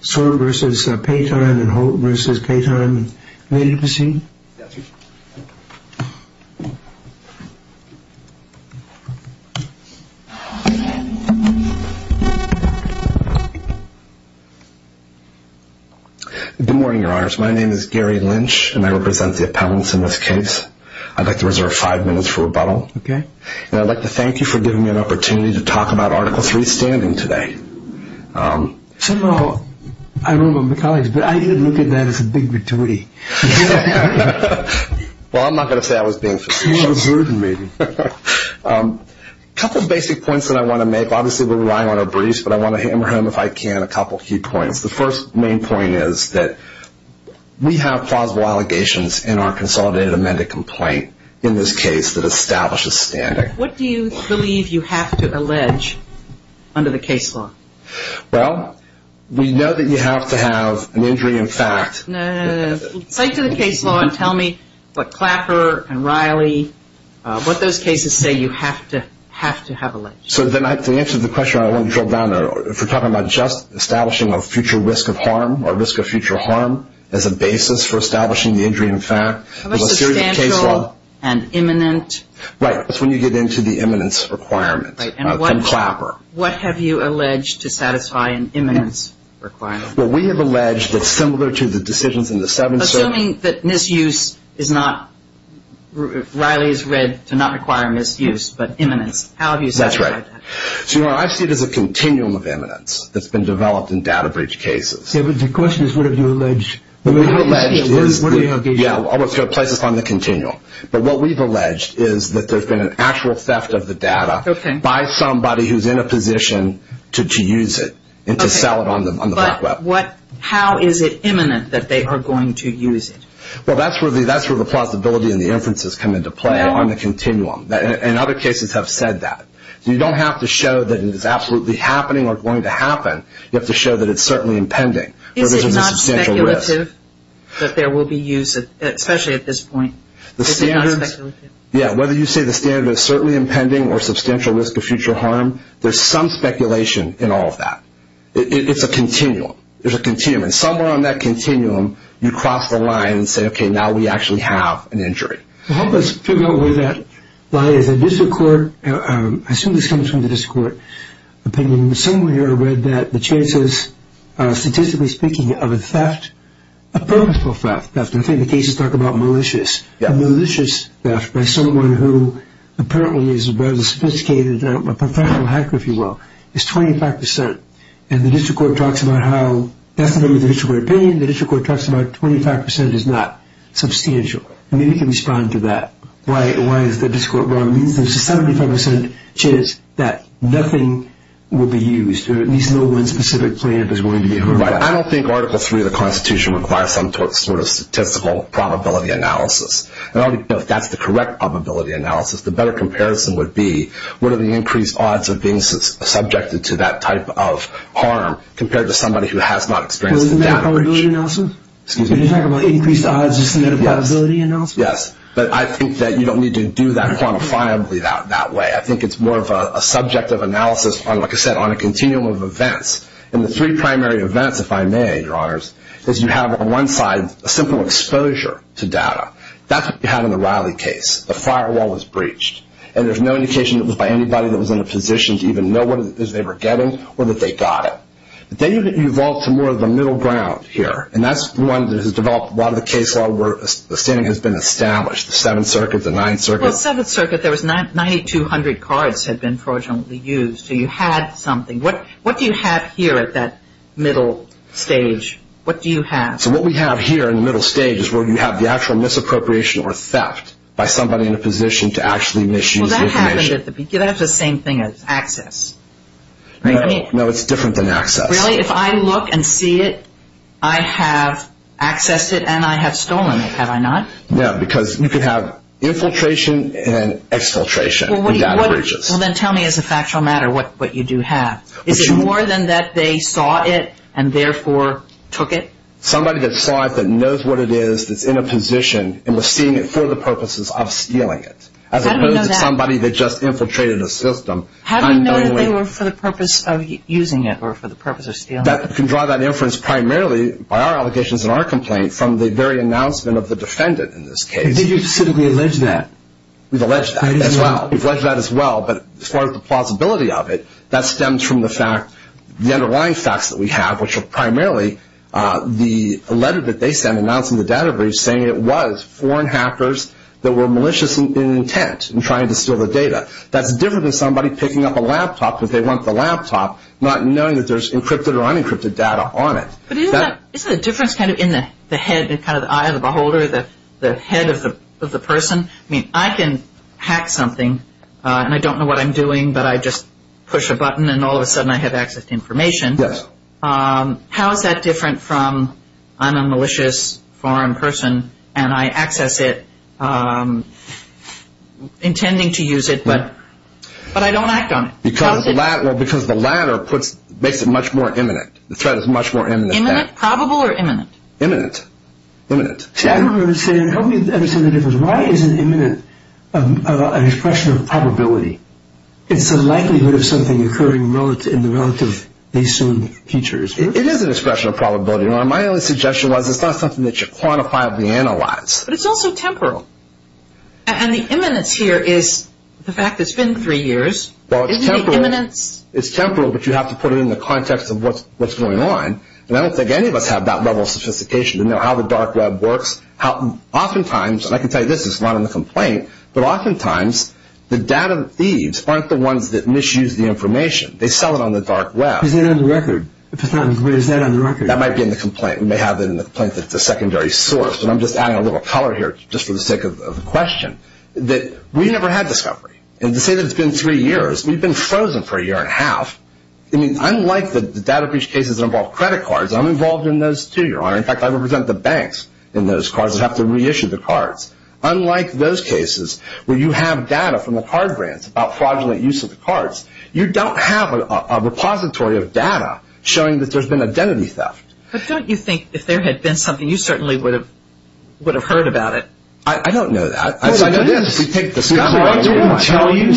Sword v. Paytime and Hope v. Paytime. May you proceed? Good morning, your honors. My name is Gary Lynch, and I represent the appellants in this case. I'd like to reserve five minutes for rebuttal, okay? And I'd like to thank you for giving me an opportunity to talk about Article 3 standing today. Somehow, I don't know about my colleagues, but I did look at that as a big virtuity. Well, I'm not going to say I was being facetious. You were burdened, maybe. A couple of basic points that I want to make. Obviously, we're relying on a briefs, but I want to hammer home, if I can, a couple of key points. The first main point is that we have plausible allegations in our consolidated amended complaint in this case that establishes standing. What do you believe you have to allege under the case law? Well, we know that you have to have an injury in fact. No, no, no. Say it to the case law and tell me what Clapper and Riley, what those cases say you have to have alleged. So, the answer to the question I want to throw down, if we're talking about just establishing a future risk of harm or risk of future harm as a basis for establishing the injury in fact, How about substantial and imminent? Right, that's when you get into the imminence requirement from Clapper. What have you alleged to satisfy an imminence requirement? Well, we have alleged that similar to the decisions in the 7th Circuit Assuming that misuse is not, Riley's read to not require misuse, but imminence, how have you satisfied that? That's right. So, you know, I see it as a continuum of imminence that's been developed in data breach cases. Yeah, but the question is what have you alleged? Yeah, I want to place this on the continuum. But what we've alleged is that there's been an actual theft of the data by somebody who's in a position to use it and to sell it on the black web. But how is it imminent that they are going to use it? Well, that's where the plausibility and the inferences come into play on the continuum. And other cases have said that. You don't have to show that it is absolutely happening or going to happen. You have to show that it's certainly impending. Is it not speculative that there will be use, especially at this point? Is it not speculative? Yeah, whether you say the standard is certainly impending or substantial risk of future harm, there's some speculation in all of that. It's a continuum. There's a continuum. And somewhere on that continuum, you cross the line and say, okay, now we actually have an injury. Help us figure out where that lie is. I assume this comes from the district court opinion. Someone here read that the chances, statistically speaking, of a theft, a purposeful theft. I think the cases talk about malicious. A malicious theft by someone who apparently is a rather sophisticated professional hacker, if you will, is 25%. And the district court talks about how that's the name of the district court opinion. The district court talks about 25% is not substantial. Maybe you can respond to that. Why is the district court wrong? It means there's a 75% chance that nothing will be used or at least no one specific plaintiff is going to be hurt. Right. I don't think Article III of the Constitution requires some sort of statistical probability analysis. If that's the correct probability analysis, the better comparison would be what are the increased odds of being subjected to that type of harm compared to somebody who has not experienced the damage. Isn't that a probability analysis? Excuse me? Are you talking about increased odds? Isn't that a probability analysis? Yes. But I think that you don't need to do that quantifiably that way. I think it's more of a subjective analysis on, like I said, on a continuum of events. And the three primary events, if I may, Your Honors, is you have on one side a simple exposure to data. That's what you had in the Riley case. The firewall was breached. And there's no indication it was by anybody that was in a position to even know what it is they were getting or that they got it. Then you evolve to more of the middle ground here. And that's one that has developed a lot of the case law where the standing has been established, the Seventh Circuit, the Ninth Circuit. Well, Seventh Circuit, there was 9,200 cards had been fraudulently used. So you had something. What do you have here at that middle stage? What do you have? So what we have here in the middle stage is where you have the actual misappropriation or theft by somebody in a position to actually misuse information. Well, that happened at the beginning. That's the same thing as access. No, it's different than access. Really? If I look and see it, I have accessed it and I have stolen it, have I not? No, because you could have infiltration and exfiltration in data breaches. Well, then tell me as a factual matter what you do have. Is it more than that they saw it and therefore took it? Somebody that saw it, that knows what it is, that's in a position and was seeing it for the purposes of stealing it. How do you know that? As opposed to somebody that just infiltrated a system. How do you know that they were for the purpose of using it or for the purpose of stealing it? You can draw that inference primarily by our allegations and our complaint from the very announcement of the defendant in this case. Did you specifically allege that? We've alleged that as well. We've alleged that as well. But as far as the plausibility of it, that stems from the underlying facts that we have, which are primarily the letter that they sent announcing the data breach saying it was foreign hackers that were malicious in intent in trying to steal the data. That's different than somebody picking up a laptop because they want the laptop, not knowing that there's encrypted or unencrypted data on it. But isn't the difference kind of in the head, kind of the eye of the beholder, the head of the person? I mean, I can hack something and I don't know what I'm doing, but I just push a button and all of a sudden I have access to information. Yes. How is that different from I'm a malicious foreign person and I access it intending to use it, but I don't act on it? Because the latter makes it much more imminent. The threat is much more imminent. Imminent, probable, or imminent? Imminent. Imminent. See, I don't understand. Help me understand the difference. Why is an imminent an expression of probability? It's the likelihood of something occurring in the relative, they assume, future. It is an expression of probability. My only suggestion was it's not something that you quantifiably analyze. But it's also temporal. And the imminence here is the fact that it's been three years. Well, it's temporal. Isn't it imminence? It's temporal, but you have to put it in the context of what's going on. And I don't think any of us have that level of sophistication to know how the dark web works. Oftentimes, and I can tell you this, it's not in the complaint, but oftentimes the data thieves aren't the ones that misuse the information. They sell it on the dark web. Isn't it on the record? If it's not on the record, isn't that on the record? That might be in the complaint. We may have it in the complaint that it's a secondary source. And I'm just adding a little color here just for the sake of the question. We never had discovery. And to say that it's been three years, we've been frozen for a year and a half. I mean, unlike the data breach cases that involve credit cards, I'm involved in those too, Your Honor. In fact, I represent the banks in those cards and have to reissue the cards. Unlike those cases where you have data from the card grants about fraudulent use of the cards, you don't have a repository of data showing that there's been identity theft. But don't you think if there had been something, you certainly would have heard about it? I don't know that. I'd say it is if we take the discovery. Would they tell you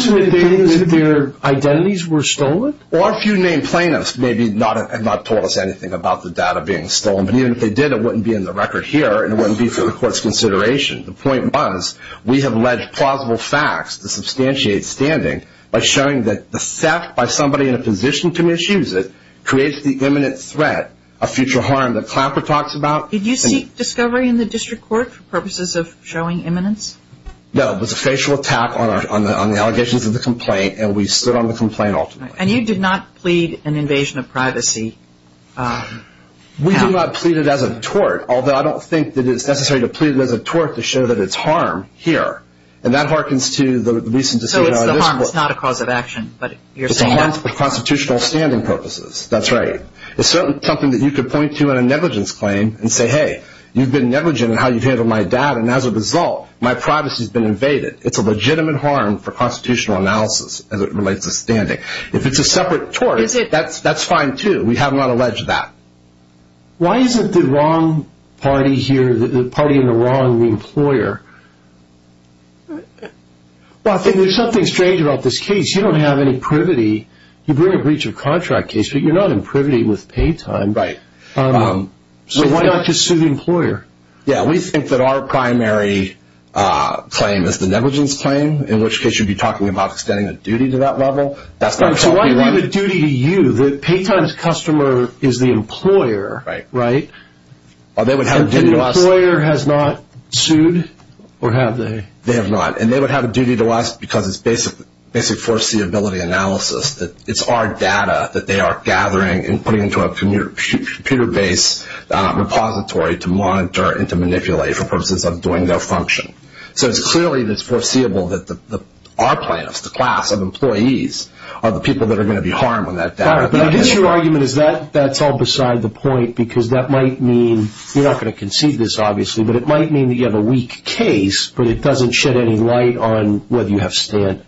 that their identities were stolen? Or if you named plaintiffs, maybe not told us anything about the data being stolen. But even if they did, it wouldn't be in the record here and it wouldn't be for the court's consideration. The point was we have alleged plausible facts to substantiate standing by showing that the theft by somebody in a position to misuse it creates the imminent threat of future harm that Clapper talks about. Did you seek discovery in the district court for purposes of showing imminence? No. It was a facial attack on the allegations of the complaint, and we stood on the complaint ultimately. And you did not plead an invasion of privacy? We did not plead it as a tort, although I don't think that it's necessary to plead it as a tort to show that it's harm here. And that harkens to the recent decision on this court. So the harm is not a cause of action, but you're saying that? It's a harm for constitutional standing purposes. That's right. It's certainly something that you could point to in a negligence claim and say, hey, you've been negligent in how you've handled my data, and as a result, my privacy's been invaded. It's a legitimate harm for constitutional analysis as it relates to standing. If it's a separate tort, that's fine too. We have not alleged that. Why is it the wrong party here, the party in the wrong, the employer? Well, I think there's something strange about this case. You don't have any privity. You bring a breach of contract case, but you're not in privity with pay time. Right. So why not just sue the employer? Yeah, we think that our primary claim is the negligence claim, in which case you'd be talking about extending a duty to that level. So why leave a duty to you? The pay time's customer is the employer, right? Well, they would have a duty to us. The employer has not sued, or have they? They have not, and they would have a duty to us because it's basic foreseeability analysis. It's our data that they are gathering and putting into a computer-based repository to monitor and to manipulate for purposes of doing their function. So it's clearly that it's foreseeable that our plaintiffs, the class of employees, are the people that are going to be harmed when that data gets out. I guess your argument is that that's all beside the point because that might mean, you're not going to concede this obviously, but it might mean that you have a weak case, but it doesn't shed any light on whether you have stint.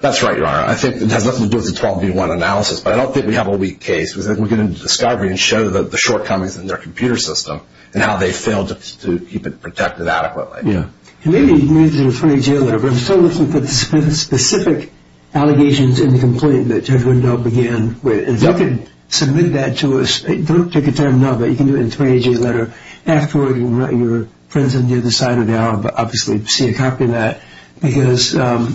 That's right, Your Honor. I think it has nothing to do with the 12B1 analysis, but I don't think we have a weak case because then we'll get into discovery and show the shortcomings in their computer system and how they failed to keep it protected adequately. Maybe you can use it in a 30-day letter, but I'm still looking for the specific allegations in the complaint that Judge Wendell began with. If you could submit that to us. Don't take the time now, but you can do it in a 30-day letter. Afterward, your friends on the other side of the aisle will obviously see a copy of that because that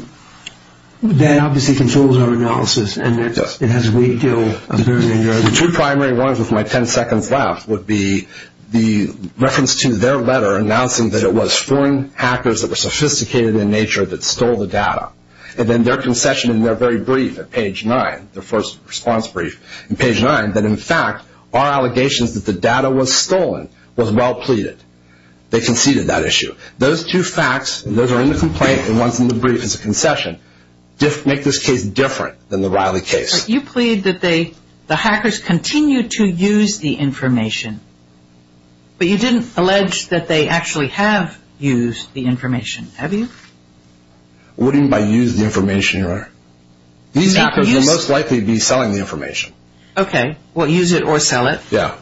obviously controls our analysis and it has a weak deal. The two primary ones with my ten seconds left would be the reference to their letter announcing that it was foreign hackers that were sophisticated in nature that stole the data, and then their concession in their very brief at page 9, their first response brief in page 9, that in fact our allegations that the data was stolen was well pleaded. They conceded that issue. Those two facts, those are in the complaint and ones in the brief as a concession, make this case different than the Riley case. You plead that the hackers continue to use the information, but you didn't allege that they actually have used the information, have you? What do you mean by use the information, Your Honor? These hackers will most likely be selling the information. Okay. Well, use it or sell it. Yeah.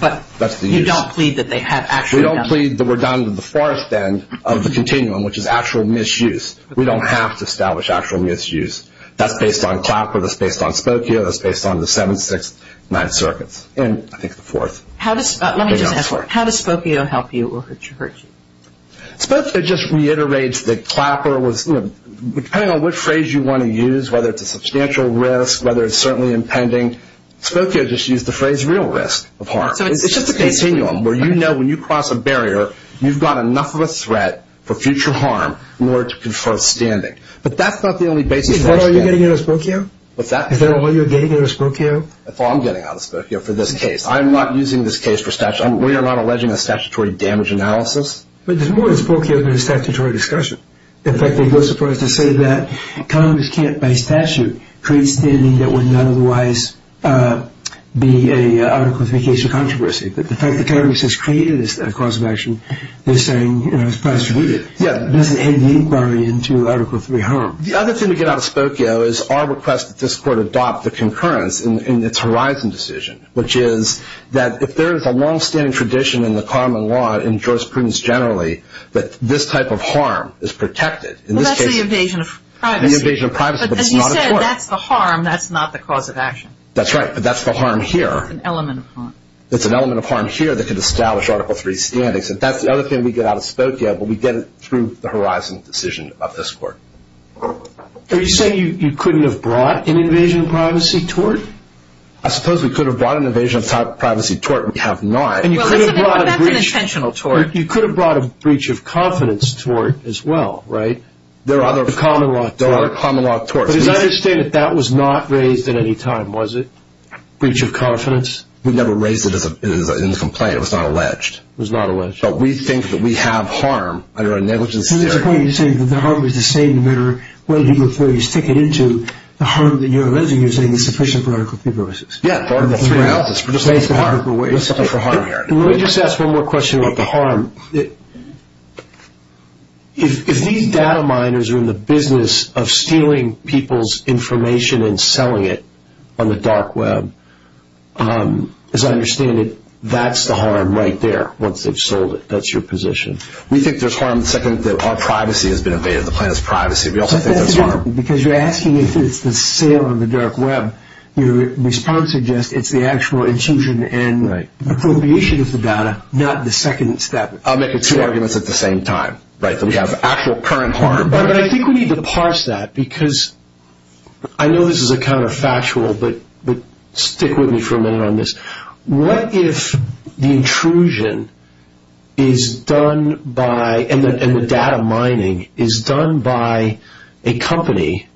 But you don't plead that they have actually done it. We don't plead that we're down to the farthest end of the continuum, which is actual misuse. We don't have to establish actual misuse. That's based on Clapper. That's based on Spokio. That's based on the 7th, 6th, 9th circuits, and I think the 4th. Let me just ask, how does Spokio help you or hurt you? Spokio just reiterates that Clapper was, depending on which phrase you want to use, whether it's a substantial risk, whether it's certainly impending, Spokio just used the phrase real risk of harm. It's just a continuum where you know when you cross a barrier, you've got enough of a threat for future harm in order to confer standing. But that's not the only basis. Wait, what are you getting out of Spokio? What's that? Is that all you're getting out of Spokio? That's all I'm getting out of Spokio for this case. I'm not using this case for statute. We are not alleging a statutory damage analysis. But there's more to Spokio than a statutory discussion. In fact, they go so far as to say that Congress can't, by statute, create standing that would not otherwise be an article of communication controversy. But the fact that Congress has created this cause of action, they're saying, you know, it's prostituted. This is in the inquiry into Article III harm. The other thing to get out of Spokio is our request that this court adopt the concurrence in its horizon decision, which is that if there is a longstanding tradition in the common law in jurisprudence generally, that this type of harm is protected. Well, that's the invasion of privacy. The invasion of privacy, but it's not a court. But as you said, that's the harm. That's not the cause of action. That's right, but that's the harm here. It's an element of harm. It's an element of harm here that could establish Article III standings. And that's the other thing we get out of Spokio, but we get it through the horizon decision of this court. Are you saying you couldn't have brought an invasion of privacy tort? I suppose we could have brought an invasion of privacy tort. We have not. Well, that's an intentional tort. You could have brought a breach of confidence tort as well, right? There are other common law torts. But as I understand it, that was not raised at any time, was it, breach of confidence? We never raised it in the complaint. It was not alleged. It was not alleged. But we think that we have harm under a negligence theory. So at this point, you're saying that the harm is the same no matter what legal authority you stick it into. The harm that you're alleging, you're saying, is sufficient for Article III purposes. Yeah, Article III. We're just looking for harm here. Let me just ask one more question about the harm. If these data miners are in the business of stealing people's information and selling it on the dark web, as I understand it, that's the harm right there once they've sold it. That's your position. We think there's harm the second that our privacy has been invaded, the planet's privacy. We also think there's harm. Because you're asking if it's the sale on the dark web. Your response suggests it's the actual intrusion and appropriation of the data, not the second step. I'll make two arguments at the same time, right, that we have actual current harm. I think we need to parse that because I know this is a counterfactual, but stick with me for a minute on this. What if the intrusion is done by, and the data mining is done by a company,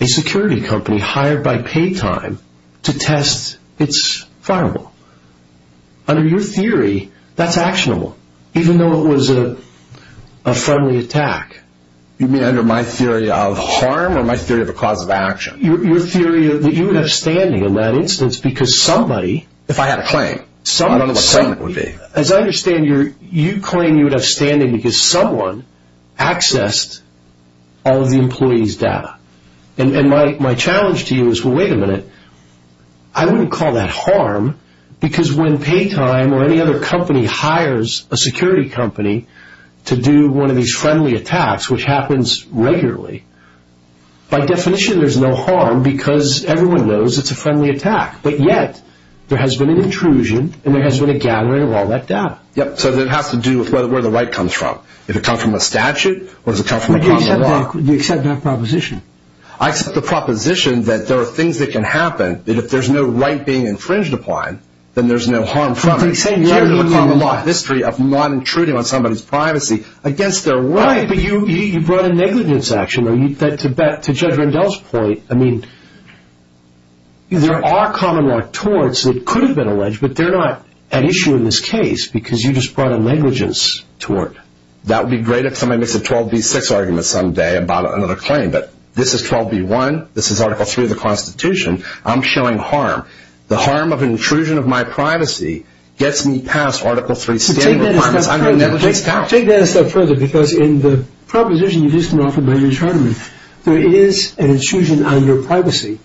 a security company, hired by Paytime to test its firewall? Under your theory, that's actionable, even though it was a friendly attack. You mean under my theory of harm or my theory of a cause of action? Your theory that you would have standing in that instance because somebody... If I had a claim. I don't know what claim it would be. As I understand, you claim you would have standing because someone accessed all of the employee's data. And my challenge to you is, well, wait a minute. I wouldn't call that harm because when Paytime or any other company hires a security company to do one of these friendly attacks, which happens regularly, by definition there's no harm because everyone knows it's a friendly attack. But yet, there has been an intrusion and there has been a gathering of all that data. So it has to do with where the right comes from. Does it come from a statute or does it come from a common law? You accept that proposition. I accept the proposition that there are things that can happen, that if there's no right being infringed upon, then there's no harm from it. But you're saying you have a common law history of not intruding on somebody's privacy against their right. Right, but you brought a negligence action. To Judge Rendell's point, I mean, there are common law torts that could have been alleged, but they're not an issue in this case because you just brought a negligence tort. That would be great if somebody makes a 12b-6 argument someday about another claim, but this is 12b-1, this is Article 3 of the Constitution, I'm showing harm. The harm of intrusion of my privacy gets me past Article 3 standard requirements. Take that a step further because in the proposition you just offered by Ms. Hardeman, there is an intrusion on your privacy,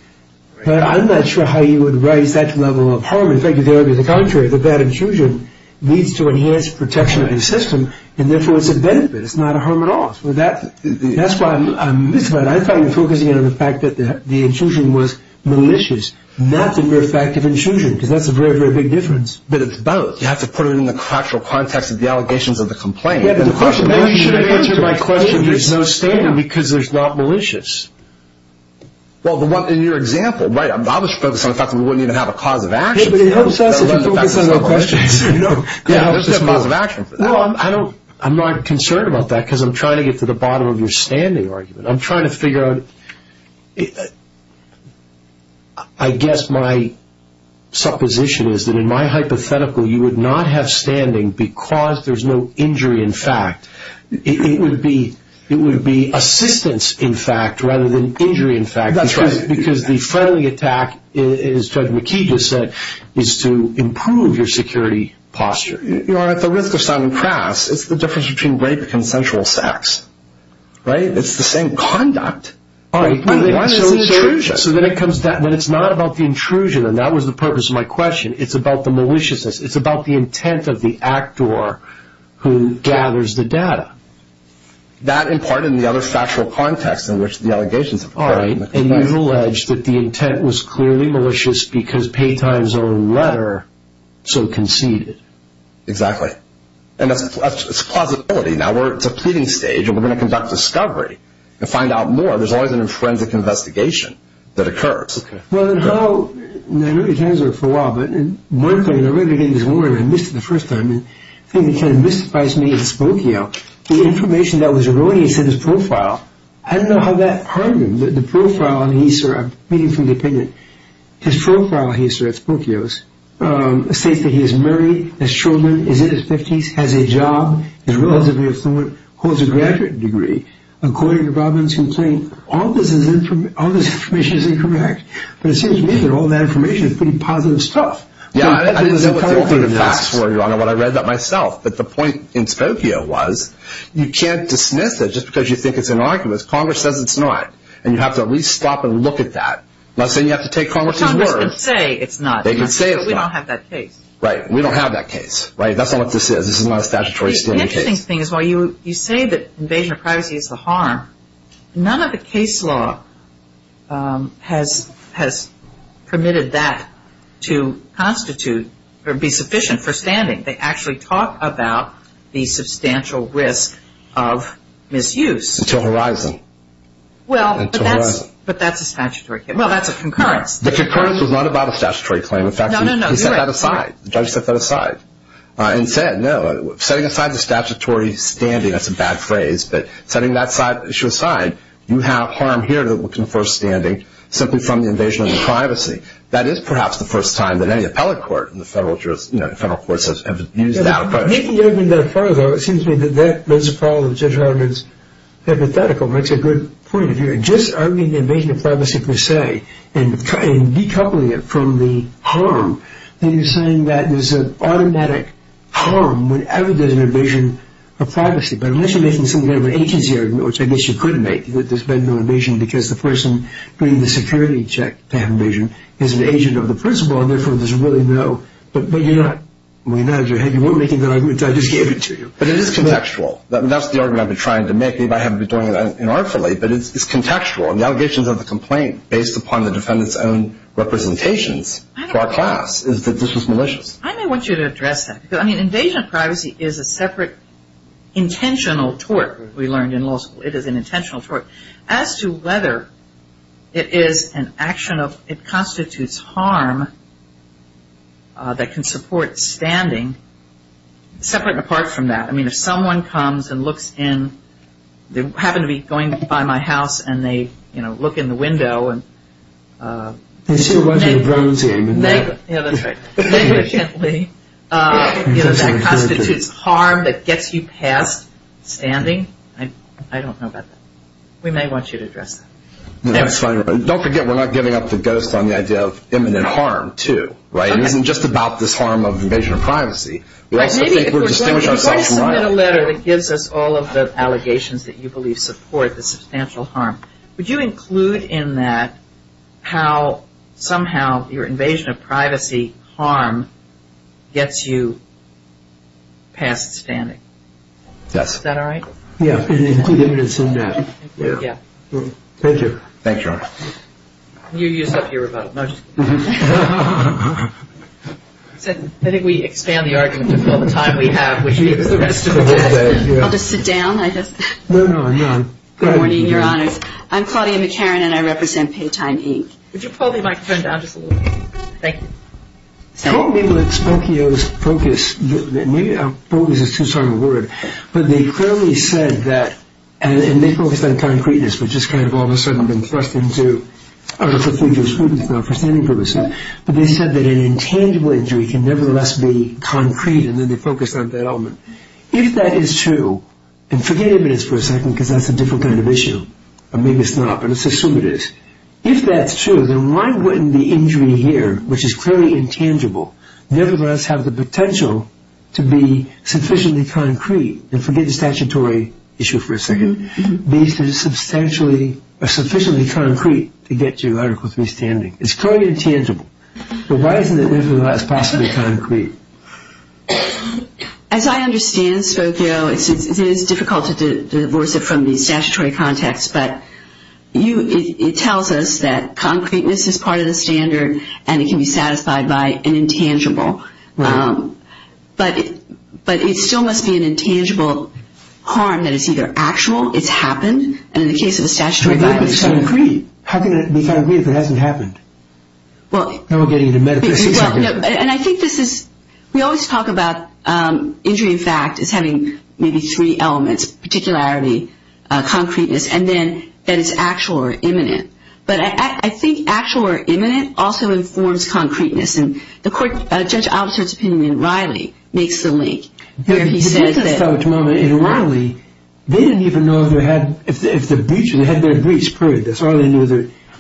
but I'm not sure how you would raise that level of harm. In fact, you could argue the contrary, that that intrusion leads to enhanced protection of the system, and therefore it's a benefit, it's not a harm at all. That's why I'm missing it. I thought you were focusing on the fact that the intrusion was malicious, not the very fact of intrusion, because that's a very, very big difference. But it's both. You have to put it in the factual context of the allegations of the complaint. The question is, why should I answer my question? There's no standard because there's not malicious. Well, in your example, I was focused on the fact that we wouldn't even have a cause of action. It helps us if we focus on our questions. There's no cause of action. Well, I'm not concerned about that because I'm trying to get to the bottom of your standing argument. I'm trying to figure out, I guess my supposition is that in my hypothetical, you would not have standing because there's no injury in fact. It would be assistance, in fact, rather than injury, in fact. That's right. Because the friendly attack, as Judge McKee just said, is to improve your security posture. You are at the risk of sounding crass. It's the difference between rape and sexual sex. Right? It's the same conduct. All right. Why is it the intrusion? So then it comes down. But it's not about the intrusion, and that was the purpose of my question. It's about the maliciousness. It's about the intent of the actor who gathers the data. That, in part, and the other factual context in which the allegations have occurred. All right. And you've alleged that the intent was clearly malicious because Paytime's own letter so conceded. Exactly. And that's plausibility. Now, it's a pleading stage, and we're going to conduct discovery and find out more. There's always an forensic investigation that occurs. Okay. Well, and how – and I know you've had this for a while. But one thing, I read it again this morning. I missed it the first time. And the thing that kind of mystifies me is Spokio. The information that was erroneous in his profile, I don't know how that harmed him. The profile, and I'm reading from the opinion. His profile, he asserts, Spokio's, states that he is married, has children, is in his 50s, has a job, is relatively affluent, holds a graduate degree. According to Robin's complaint, all this information is incorrect. But it seems to me that all that information is pretty positive stuff. Yeah, I didn't know what the alternative facts were, Your Honor, when I read that myself. But the point in Spokio was you can't dismiss it just because you think it's an argument. Congress says it's not. And you have to at least stop and look at that. I'm not saying you have to take Congress's words. Congress can say it's not. They can say it's not. But we don't have that case. Right. We don't have that case. Right. That's not what this is. This is not a statutory state case. The interesting thing is while you say that invasion of privacy is the harm, none of the case law has permitted that to constitute or be sufficient for standing. They actually talk about the substantial risk of misuse. Until horizon. Well, but that's a statutory case. Well, that's a concurrence. The concurrence was not about a statutory claim. In fact, he set that aside. No, no, no, you're right. The judge set that aside and said, no. Setting aside the statutory standing, that's a bad phrase, but setting that issue aside, you have harm here that would confer standing simply from the invasion of privacy. That is perhaps the first time that any appellate court and the federal courts have used that approach. Making the argument that far, though, it seems to me that that raises a problem that Judge Hardiman's hypothetical makes a good point of view. Just arguing the invasion of privacy per se and decoupling it from the harm, then you're saying that there's an automatic harm whenever there's an invasion of privacy. But unless you're making something out of an agency argument, which I guess you could make, that there's been no invasion because the person bringing the security check to have invasion is an agent of the principal and, therefore, there's really no. But you're not. You weren't making that argument. I just gave it to you. But it is contextual. That's the argument I've been trying to make. Maybe I haven't been doing it inartfully, but it's contextual. And the allegations of the complaint, based upon the defendant's own representations for our class, is that this was malicious. I may want you to address that. Because, I mean, invasion of privacy is a separate intentional tort, we learned in law school. It is an intentional tort. As to whether it is an action of, it constitutes harm that can support standing, separate and apart from that. I mean, if someone comes and looks in, they happen to be going by my house, and they, you know, look in the window and They still want you to protect them. Yeah, that's right. Negligently, you know, that constitutes harm that gets you past standing. I don't know about that. We may want you to address that. That's fine. Don't forget, we're not giving up the ghost on the idea of imminent harm, too. Right? It isn't just about this harm of invasion of privacy. If you're going to submit a letter that gives us all of the allegations that you believe support the substantial harm, would you include in that how, somehow, your invasion of privacy harm gets you past standing? Yes. Is that all right? Yeah. Include evidence in that. Yeah. Thank you. Thank you, Your Honor. You used up your rebuttal. I think we expand the argument with all the time we have. I'll just sit down, I guess. No, no, no. Good morning, Your Honors. I'm Claudia McCarran, and I represent Paytime, Inc. Would you pull the microphone down just a little bit? Thank you. Well, maybe Spokio's focus is too strong a word. But they clearly said that, and they focused on concreteness, which has kind of all of a sudden been thrust into other procedures, not for standing purposes. But they said that an intangible injury can nevertheless be concrete, and then they focused on that element. If that is true, and forget imminence for a second because that's a different kind of issue, or maybe it's not, but let's assume it is. If that's true, then why wouldn't the injury here, which is clearly intangible, nevertheless have the potential to be sufficiently concrete, and forget the statutory issue for a second, be sufficiently concrete to get you Article III standing? It's clearly intangible. But why isn't it nevertheless possibly concrete? As I understand, Spokio, it is difficult to divorce it from the statutory context, but it tells us that concreteness is part of the standard, and it can be satisfied by an intangible. But it still must be an intangible harm that is either actual, it's happened, and in the case of a statutory violation, it's concrete. How can it be concrete if it hasn't happened? Now we're getting into metaphysics. And I think this is we always talk about injury in fact as having maybe three elements, one is particularity, concreteness, and then that it's actual or imminent. But I think actual or imminent also informs concreteness. And the court judge officer's opinion in Riley makes the link where he says that. In Riley, they didn't even know if they had their breach, period. That's all they knew.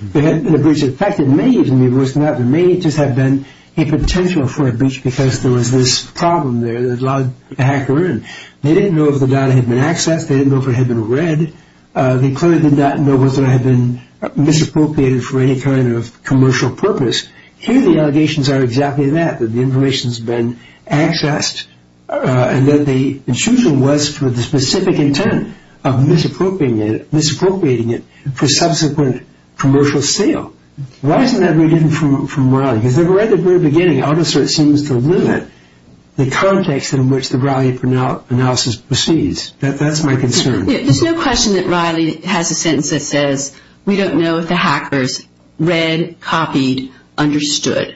There hadn't been a breach. In fact, it may even be worse than that. There may just have been a potential for a breach because there was this problem there that allowed the hacker in. They didn't know if the data had been accessed. They didn't know if it had been read. They clearly did not know whether it had been misappropriated for any kind of commercial purpose. Here the allegations are exactly that, that the information has been accessed and that the intrusion was for the specific intent of misappropriating it for subsequent commercial sale. Why isn't that very different from Riley? Because right at the very beginning, AutoCert seems to limit the context in which the Riley analysis proceeds. That's my concern. There's no question that Riley has a sentence that says, we don't know if the hackers read, copied, understood.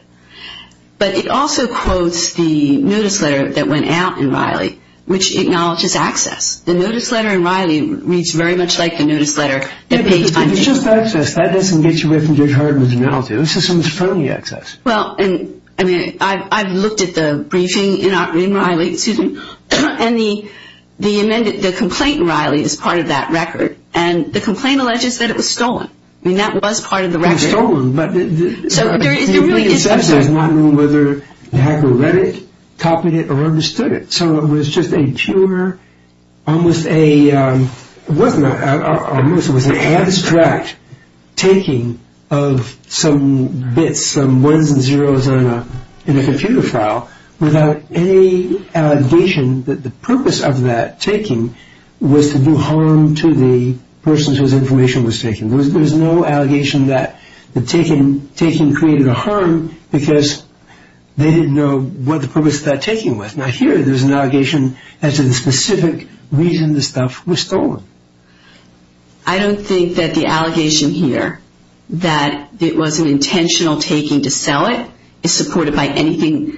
But it also quotes the notice letter that went out in Riley, which acknowledges access. The notice letter in Riley reads very much like the notice letter that paid funding. It's just access. That doesn't get you away from Judge Harden's analogy. This is someone's friendly access. Well, I've looked at the briefing in Riley, and the complaint in Riley is part of that record. And the complaint alleges that it was stolen. I mean, that was part of the record. It was stolen. But there really is no such thing. The only assumption is not knowing whether the hacker read it, copied it, or understood it. So it was just a pure, almost an abstract taking of some bits, some ones and zeros in a computer file, without any allegation that the purpose of that taking was to do harm to the person whose information was taken. There was no allegation that the taking created a harm, because they didn't know what the purpose of that taking was. Now here, there's an allegation as to the specific reason the stuff was stolen. I don't think that the allegation here that it was an intentional taking to sell it is supported by anything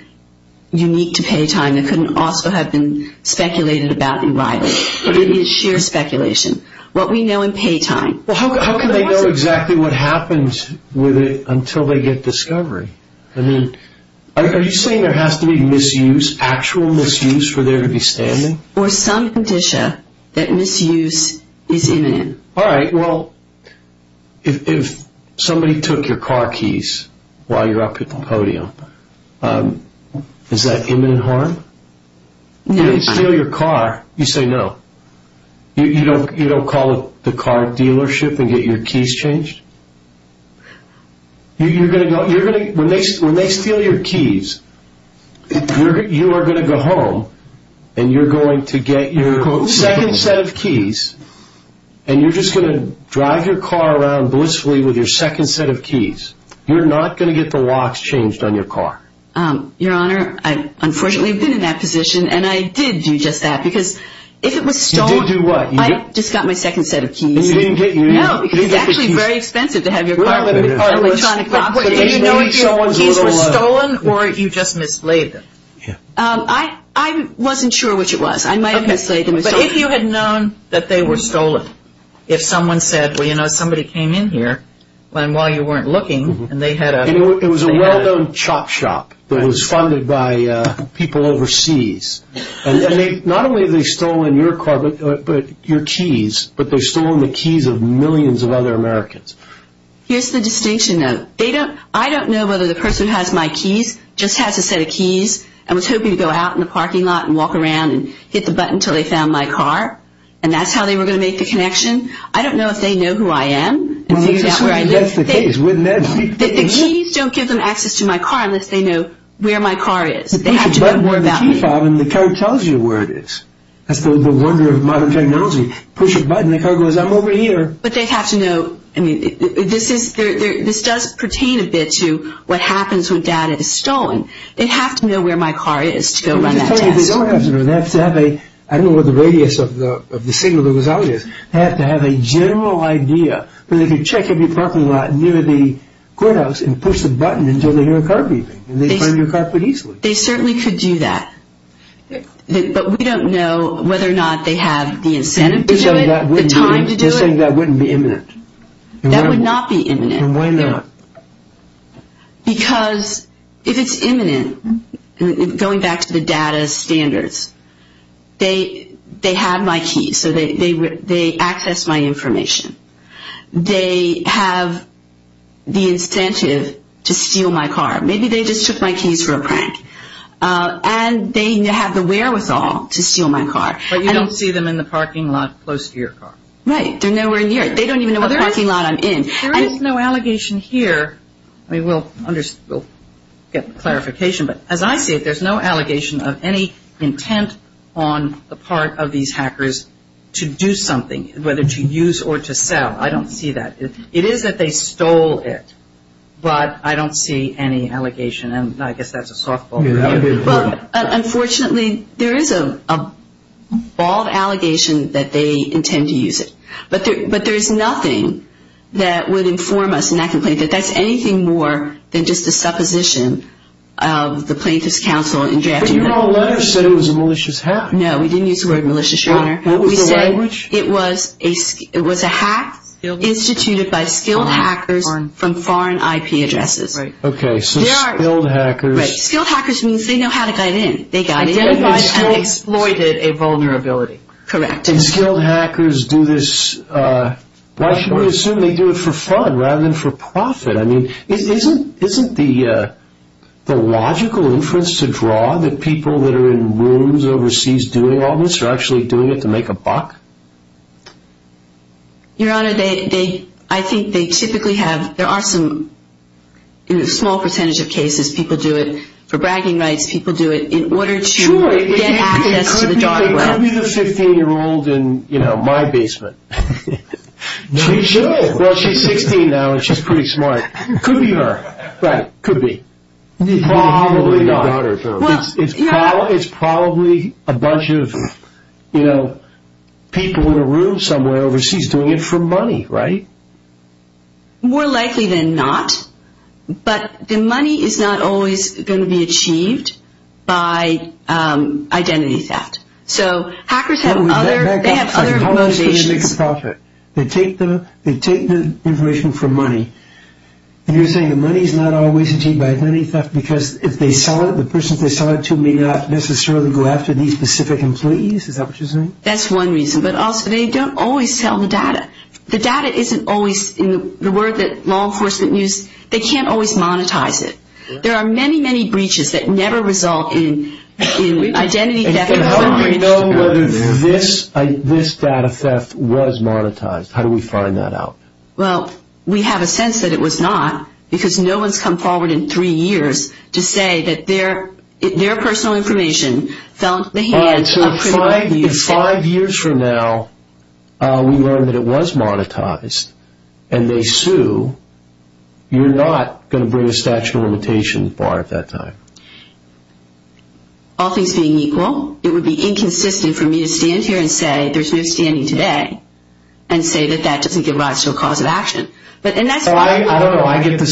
unique to Paytime that couldn't also have been speculated about in Riley. But it is sheer speculation. What we know in Paytime. Well, how can they know exactly what happens with it until they get discovery? I mean, are you saying there has to be misuse, actual misuse for there to be standing? Or some condition that misuse is imminent. All right, well, if somebody took your car keys while you're up at the podium, is that imminent harm? If they steal your car, you say no. You don't call the car dealership and get your keys changed? When they steal your keys, you are going to go home, and you're going to get your second set of keys, and you're just going to drive your car around blissfully with your second set of keys. You're not going to get the locks changed on your car. Your Honor, I unfortunately have been in that position, and I did do just that, because if it was stolen. You did do what? I just got my second set of keys. And you didn't get your keys? No, because it's actually very expensive to have your car with electronic locks. Do you know if your keys were stolen, or you just mislaid them? I wasn't sure which it was. I might have mislaid them. But if you had known that they were stolen, if someone said, well, you know, somebody came in here while you weren't looking, and they had a... It was a well-known chop shop that was funded by people overseas. Not only have they stolen your car, but your keys, but they've stolen the keys of millions of other Americans. Here's the distinction, though. I don't know whether the person who has my keys just has a set of keys and was hoping to go out in the parking lot and walk around and hit the button until they found my car, and that's how they were going to make the connection. I don't know if they know who I am. Well, let's assume that's the case. The keys don't give them access to my car unless they know where my car is. They have to know more about me. You can button the key fob, and the car tells you where it is. That's the wonder of modern technology. Push a button, and the car goes, I'm over here. But they have to know... I mean, this does pertain a bit to what happens when data is stolen. They have to know where my car is to go run that test. They don't have to know. They have to have a... I don't know what the radius of the signal that was out is. They have to have a general idea, where they can check every parking lot near the courthouse and push the button until they hear a car beeping, and they find your car pretty easily. They certainly could do that. But we don't know whether or not they have the incentive to do it, the time to do it. You're saying that wouldn't be imminent. That would not be imminent. Then why not? Because if it's imminent, going back to the data standards, they have my keys, so they access my information. They have the incentive to steal my car. Maybe they just took my keys for a prank. And they have the wherewithal to steal my car. But you don't see them in the parking lot close to your car. Right. They're nowhere near it. They don't even know what parking lot I'm in. There is no allegation here. I mean, we'll get clarification. But as I see it, there's no allegation of any intent on the part of these hackers to do something, whether to use or to sell. I don't see that. It is that they stole it. But I don't see any allegation. And I guess that's a softball. Unfortunately, there is a bald allegation that they intend to use it. But there is nothing that would inform us in that complaint that that's anything more than just a supposition of the plaintiff's counsel in drafting that. But your whole letter said it was a malicious hack. No, we didn't use the word malicious, Your Honor. What was the language? It was a hack instituted by skilled hackers from foreign IP addresses. Right. Okay, so skilled hackers. Right. Skilled hackers means they know how to get in. They got in. Identified and exploited a vulnerability. Correct. And skilled hackers do this, why should we assume they do it for fun rather than for profit? I mean, isn't the logical inference to draw that people that are in rooms overseas doing all this are actually doing it to make a buck? Your Honor, I think they typically have, there are some, in a small percentage of cases, people do it for bragging rights. People do it in order to get access to the dark web. It could be the 15-year-old in my basement. She should. Well, she's 16 now and she's pretty smart. It could be her. Right. It could be. Probably not. It's probably a bunch of, you know, people in a room somewhere overseas doing it for money, right? More likely than not. But the money is not always going to be achieved by identity theft. So hackers have other motivations. They take the information for money. And you're saying the money is not always achieved by identity theft because if they sell it, the persons they sell it to may not necessarily go after these specific employees? Is that what you're saying? That's one reason. But also they don't always sell the data. The data isn't always, in the word that law enforcement use, they can't always monetize it. There are many, many breaches that never result in identity theft. How do we know whether this data theft was monetized? How do we find that out? Well, we have a sense that it was not because no one's come forward in three years to say that their personal information fell into the hands of criminal abuse. So if five years from now we learn that it was monetized and they sue, you're not going to bring a statute of limitations bar at that time? All things being equal, it would be inconsistent for me to stand here and say there's no standing today and say that that doesn't give rise to a cause of action. I don't know. I get the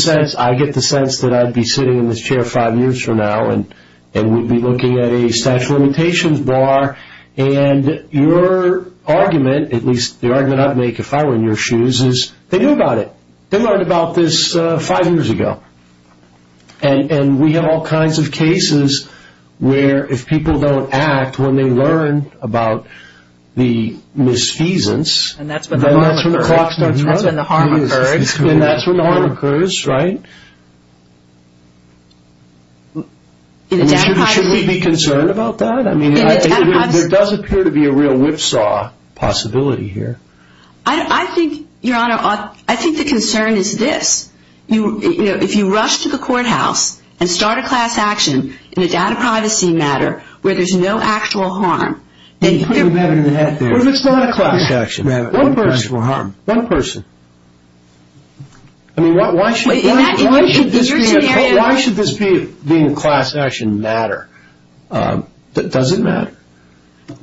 sense that I'd be sitting in this chair five years from now and we'd be looking at a statute of limitations bar and your argument, at least the argument I'd make if I were in your shoes, is they knew about it. They learned about this five years ago. And we have all kinds of cases where if people don't act when they learn about the misfeasance, then that's when the clock starts running. And that's when the harm occurs. And that's when the harm occurs, right? Should we be concerned about that? I mean, there does appear to be a real whipsaw possibility here. I think, Your Honor, I think the concern is this. If you rush to the courthouse and start a class action in a data privacy matter where there's no actual harm, then you're putting a matter in the head there. What if it's not a class action? One person. I mean, why should this being a class action matter? Does it matter?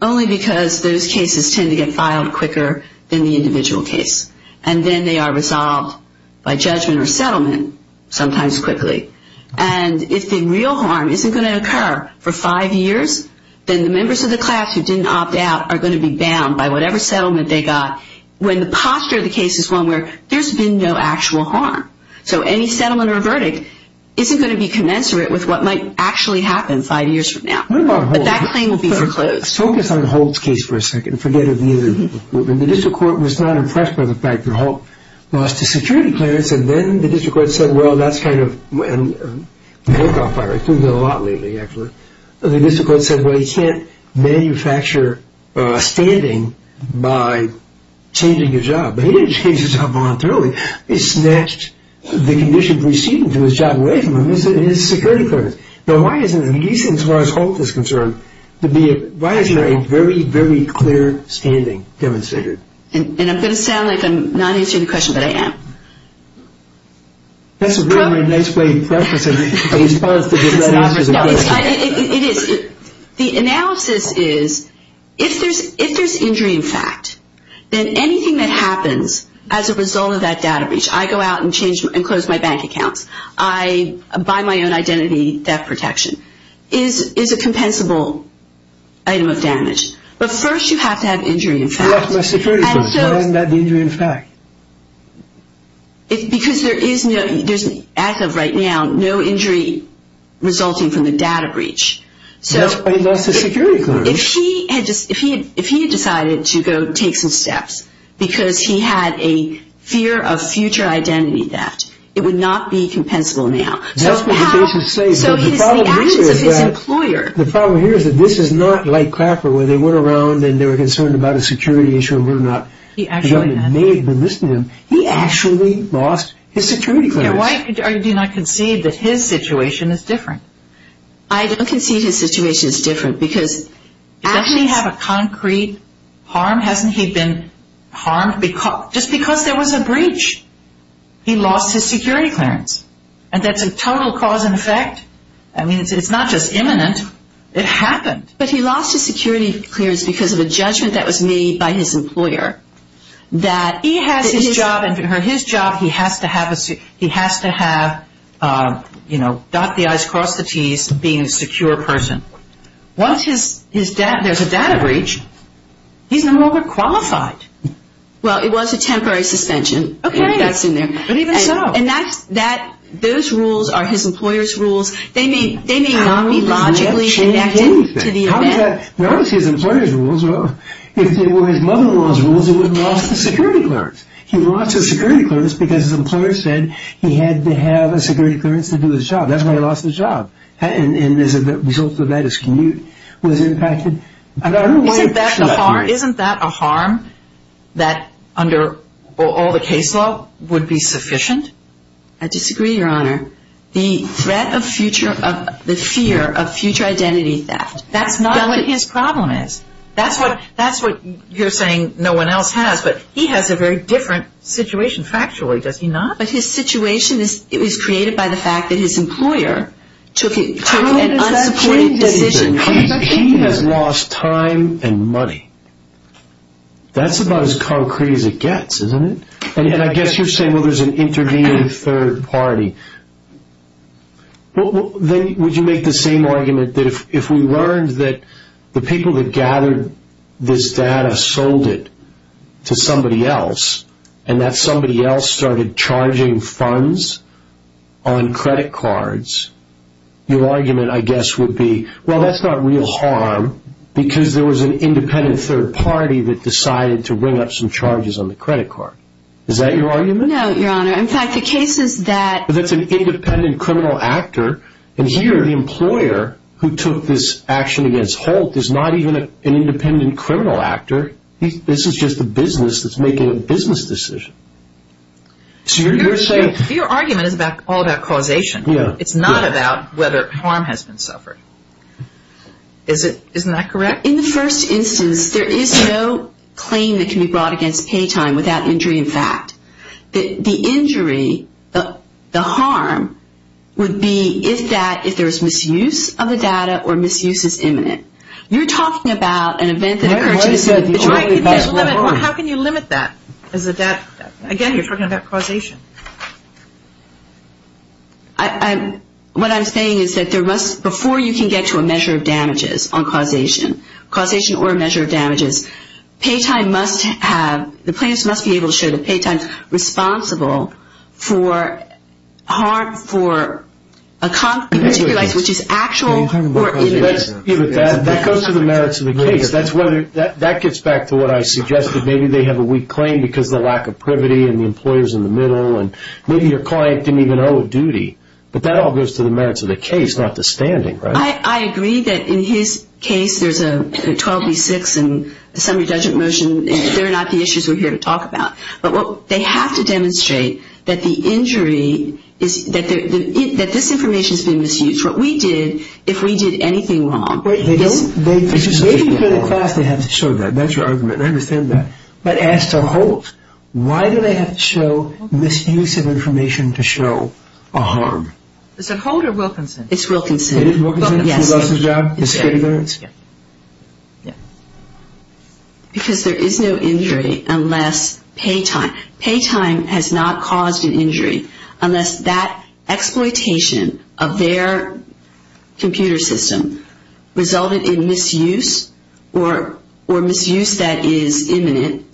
Only because those cases tend to get filed quicker than the individual case. And then they are resolved by judgment or settlement, sometimes quickly. And if the real harm isn't going to occur for five years, then the members of the class who didn't opt out are going to be bound by whatever settlement they got. When the posture of the case is one where there's been no actual harm, so any settlement or verdict isn't going to be commensurate with what might actually happen five years from now. But that claim will be foreclosed. Focus on Holt's case for a second. Forget about the other people. The district court was not impressed by the fact that Holt lost a security clearance, and then the district court said, well, that's kind of a walk-off fire. It's been a lot lately, actually. The district court said, well, he can't manufacture a standing by changing his job. But he didn't change his job voluntarily. He snatched the condition proceeding to his job away from him, his security clearance. Now, why isn't, at least as far as Holt is concerned, why isn't a very, very clear standing demonstrated? And I'm going to sound like I'm not answering the question, but I am. That's a very nice way to preface a response to just that answer. It is. The analysis is if there's injury in fact, then anything that happens as a result of that data breach, I go out and change and close my bank accounts. I buy my own identity theft protection, is a compensable item of damage. But first you have to have injury in fact. I lost my security clearance. Why isn't that injury in fact? Because there is, as of right now, no injury resulting from the data breach. That's why he lost his security clearance. If he had decided to go take some steps because he had a fear of future identity theft, it would not be compensable now. That's what the case is saying. So it's the actions of his employer. The problem here is that this is not like Crapper where they went around and they were concerned about a security issue and were not. He actually lost his security clearance. Why do you not concede that his situation is different? I don't concede his situation is different because he doesn't have a concrete harm. Hasn't he been harmed just because there was a breach? He lost his security clearance. And that's a total cause and effect. I mean, it's not just imminent. It happened. But he lost his security clearance because of a judgment that was made by his employer that he has his job and for his job he has to have, you know, dot the I's, cross the T's, being a secure person. Once there's a data breach, he's no longer qualified. Well, it was a temporary suspension. Okay. And that's in there. But even so. And those rules are his employer's rules. They may not be logically connected to the event. Notice his employer's rules. If they were his mother-in-law's rules, he wouldn't have lost his security clearance. He lost his security clearance because his employer said he had to have a security clearance to do his job. That's why he lost his job. And as a result of that, his commute was impacted. Isn't that a harm that under all the case law would be sufficient? I disagree, Your Honor. The threat of future, the fear of future identity theft. That's not what his problem is. That's what you're saying no one else has. But he has a very different situation, factually, does he not? But his situation is created by the fact that his employer took an unsupported decision. He has lost time and money. That's about as concrete as it gets, isn't it? And I guess you're saying, well, there's an intervening third party. Then would you make the same argument that if we learned that the people that gathered this data sold it to somebody else and that somebody else started charging funds on credit cards, your argument, I guess, would be, well, that's not real harm because there was an independent third party that decided to bring up some charges on the credit card. Is that your argument? No, Your Honor. In fact, the case is that... That's an independent criminal actor. And here the employer who took this action against Holt is not even an independent criminal actor. This is just a business that's making a business decision. So you're saying... Your argument is all about causation. It's not about whether harm has been suffered. Isn't that correct? In the first instance, there is no claim that can be brought against pay time without injury in fact. The injury, the harm, would be if there's misuse of the data or misuse is imminent. You're talking about an event that occurs... How can you limit that? Again, you're talking about causation. What I'm saying is that there must, before you can get to a measure of damages on causation, causation or a measure of damages, pay time must have, the plaintiffs must be able to show that pay time is responsible for harm, for a conflict of interest, which is actual or imminent. That goes to the merits of the case. That gets back to what I suggested. Maybe they have a weak claim because of the lack of privity and the employer's in the middle and maybe your client didn't even owe a duty. But that all goes to the merits of the case, not the standing, right? I agree that in his case, there's a 12B-6 and the summary judgment motion. They're not the issues we're here to talk about. But they have to demonstrate that the injury is, that this information has been misused. What we did, if we did anything wrong... They have to show that. That's your argument, and I understand that. But as to Holt, why do they have to show misuse of information to show a harm? Is it Holt or Wilkinson? It is Wilkinson? Yes. He lost his job? Yeah. Because there is no injury unless pay time, pay time has not caused an injury unless that exploitation of their computer system resulted in misuse or misuse that is imminent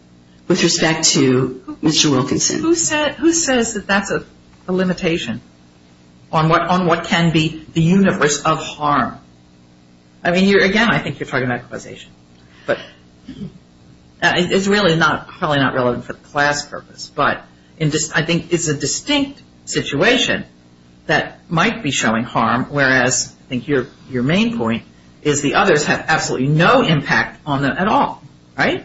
with respect to Mr. Wilkinson. Who says that that's a limitation on what can be the universe of harm? I mean, again, I think you're talking about equalization. But it's really not, probably not relevant for the class purpose. But I think it's a distinct situation that might be showing harm, whereas I think your main point is the others have absolutely no impact on them at all, right?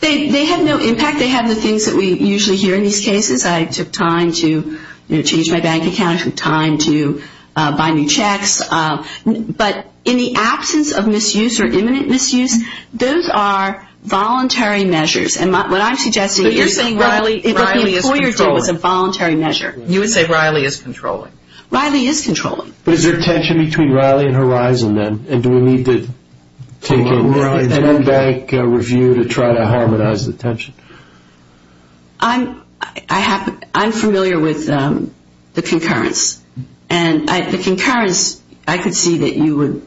They have no impact. They have the things that we usually hear in these cases. I took time to change my bank account. I took time to buy new checks. But in the absence of misuse or imminent misuse, those are voluntary measures. And what I'm suggesting is... But you're saying Riley is controlling. What the employer did was a voluntary measure. You would say Riley is controlling. Riley is controlling. But is there a tension between Riley and Horizon, then? And do we need to take a new bank review to try to harmonize the tension? I'm familiar with the concurrence. And the concurrence, I could see that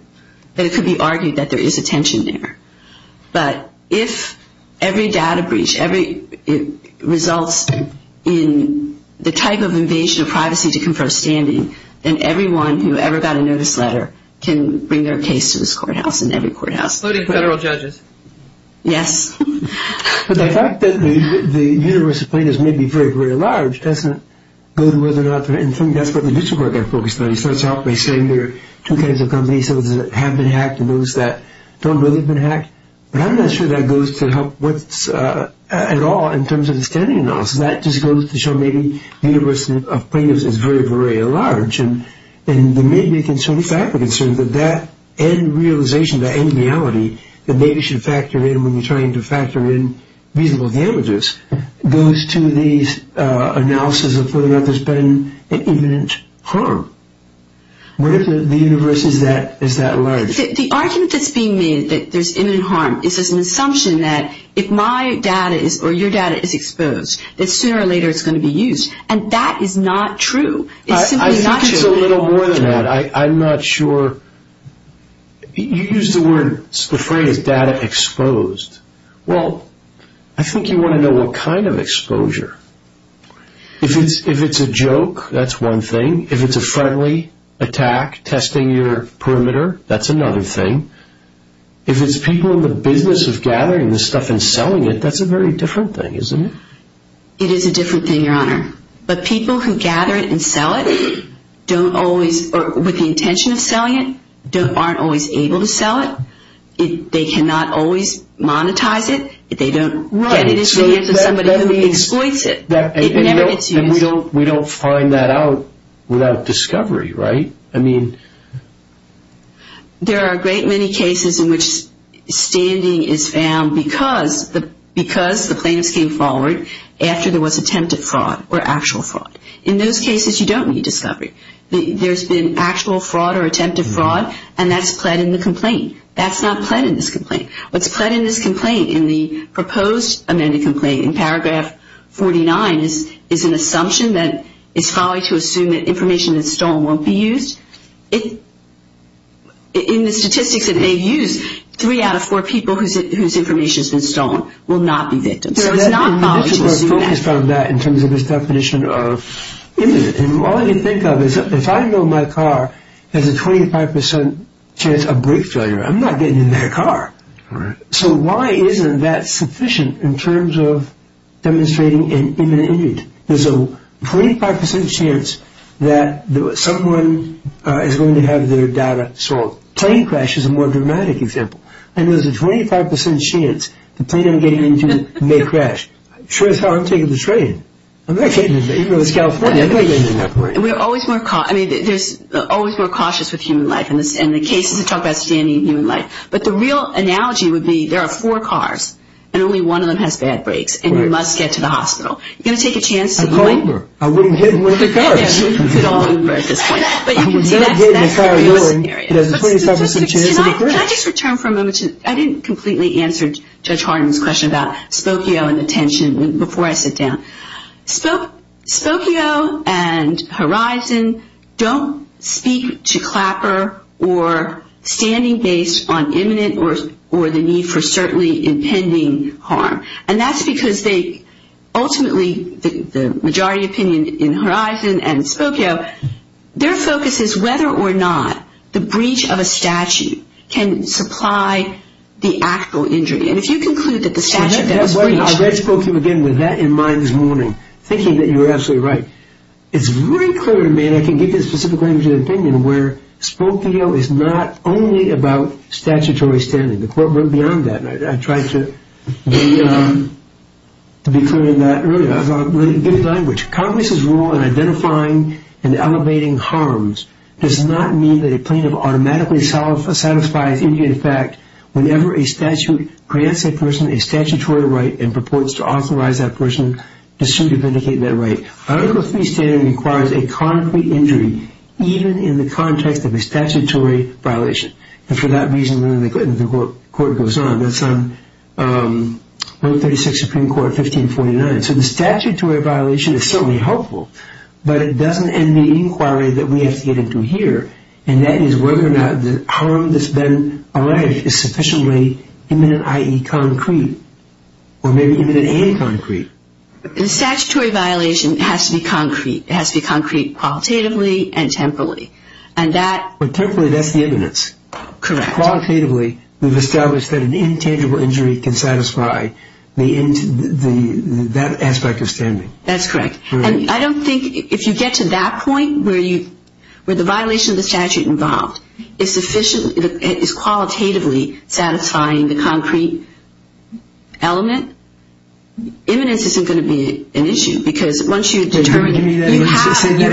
it could be argued that there is a tension there. But if every data breach results in the type of invasion of privacy to confer standing, then everyone who ever got a notice letter can bring their case to this courthouse and every courthouse. Including federal judges. Yes. But the fact that the universe of plaintiffs may be very, very large doesn't go to whether or not... And I think that's what the mutual court got focused on. It starts off by saying there are two kinds of companies, some that have been hacked and those that don't really have been hacked. But I'm not sure that goes to help at all in terms of the standing analysis. That just goes to show maybe the universe of plaintiffs is very, very large. And there may be a fact of concern that that end realization, that end reality, that maybe should factor in when you're trying to factor in reasonable damages, goes to the analysis of whether or not there's been an imminent harm. What if the universe is that large? The argument that's being made that there's imminent harm is an assumption that if my data is, or your data is exposed, that sooner or later it's going to be used. And that is not true. It's simply not true. I think it's a little more than that. I'm not sure... You used the phrase data exposed. Well, I think you want to know what kind of exposure. If it's a joke, that's one thing. If it's a friendly attack testing your perimeter, that's another thing. If it's people in the business of gathering this stuff and selling it, that's a very different thing, isn't it? It is a different thing, Your Honor. But people who gather it and sell it don't always, or with the intention of selling it, aren't always able to sell it. They cannot always monetize it. They don't get it as a gift to somebody who exploits it. It never gets used. And we don't find that out without discovery, right? I mean... There are a great many cases in which standing is found because the plaintiffs came forward after there was attempted fraud or actual fraud. In those cases, you don't need discovery. There's been actual fraud or attempted fraud, and that's pled in the complaint. That's not pled in this complaint. What's pled in this complaint, in the proposed amended complaint in paragraph 49, is an assumption that it's folly to assume that information that's stolen won't be used. In the statistics that they've used, three out of four people whose information has been stolen will not be victims. So it's not folly to assume that. We're focused on that in terms of this definition of imminent. And all you think of is if I know my car has a 25% chance of brake failure, I'm not getting in their car. So why isn't that sufficient in terms of demonstrating an imminent injury? There's a 25% chance that someone is going to have their data solved. A plane crash is a more dramatic example. And there's a 25% chance the plane I'm getting into may crash. Sure as hell, I'm taking the train. I'm not taking the train. Even though it's California, I'm not getting in that plane. We're always more... I mean, there's always more cautious with human life, and the cases that talk about standing in human life. But the real analogy would be there are four cars, and only one of them has bad brakes, and you must get to the hospital. You're going to take a chance to be... A Uber. I wouldn't hit Uber. You could all Uber at this point. But you can see that's a pretty realistic area. But statistics... Can I just return for a moment to... I didn't completely answer Judge Harden's question about Spokio and the tension before I sit down. Spokio and Horizon don't speak to Clapper or standing based on imminent or the need for certainly impending harm. And that's because they ultimately, the majority opinion in Horizon and Spokio, their focus is whether or not the breach of a statute can supply the actual injury. And if you conclude that the statute... I'm wondering, thinking that you're absolutely right. It's very clear to me, and I can give you a specific language of opinion, where Spokio is not only about statutory standing. The court went beyond that, and I tried to be clear in that earlier. I thought it was a good language. Congress's rule in identifying and elevating harms does not mean that a plaintiff automatically satisfies immediate effect whenever a statute grants a person a statutory right and purports to authorize that person to sue to vindicate that right. Article III standing requires a concrete injury even in the context of a statutory violation. And for that reason, the court goes on. That's on 136 Supreme Court 1549. So the statutory violation is certainly helpful, but it doesn't end the inquiry that we have to get into here, and that is whether or not the harm that's been alleged is sufficiently imminent, i.e., concrete, or maybe imminent and concrete. The statutory violation has to be concrete. It has to be concrete qualitatively and temporally. And that... But temporally, that's the imminence. Correct. Qualitatively, we've established that an intangible injury can satisfy that aspect of standing. That's correct. And I don't think if you get to that point where the violation of the statute involved is sufficiently and is qualitatively satisfying the concrete element, imminence isn't going to be an issue because once you determine... Say that again. You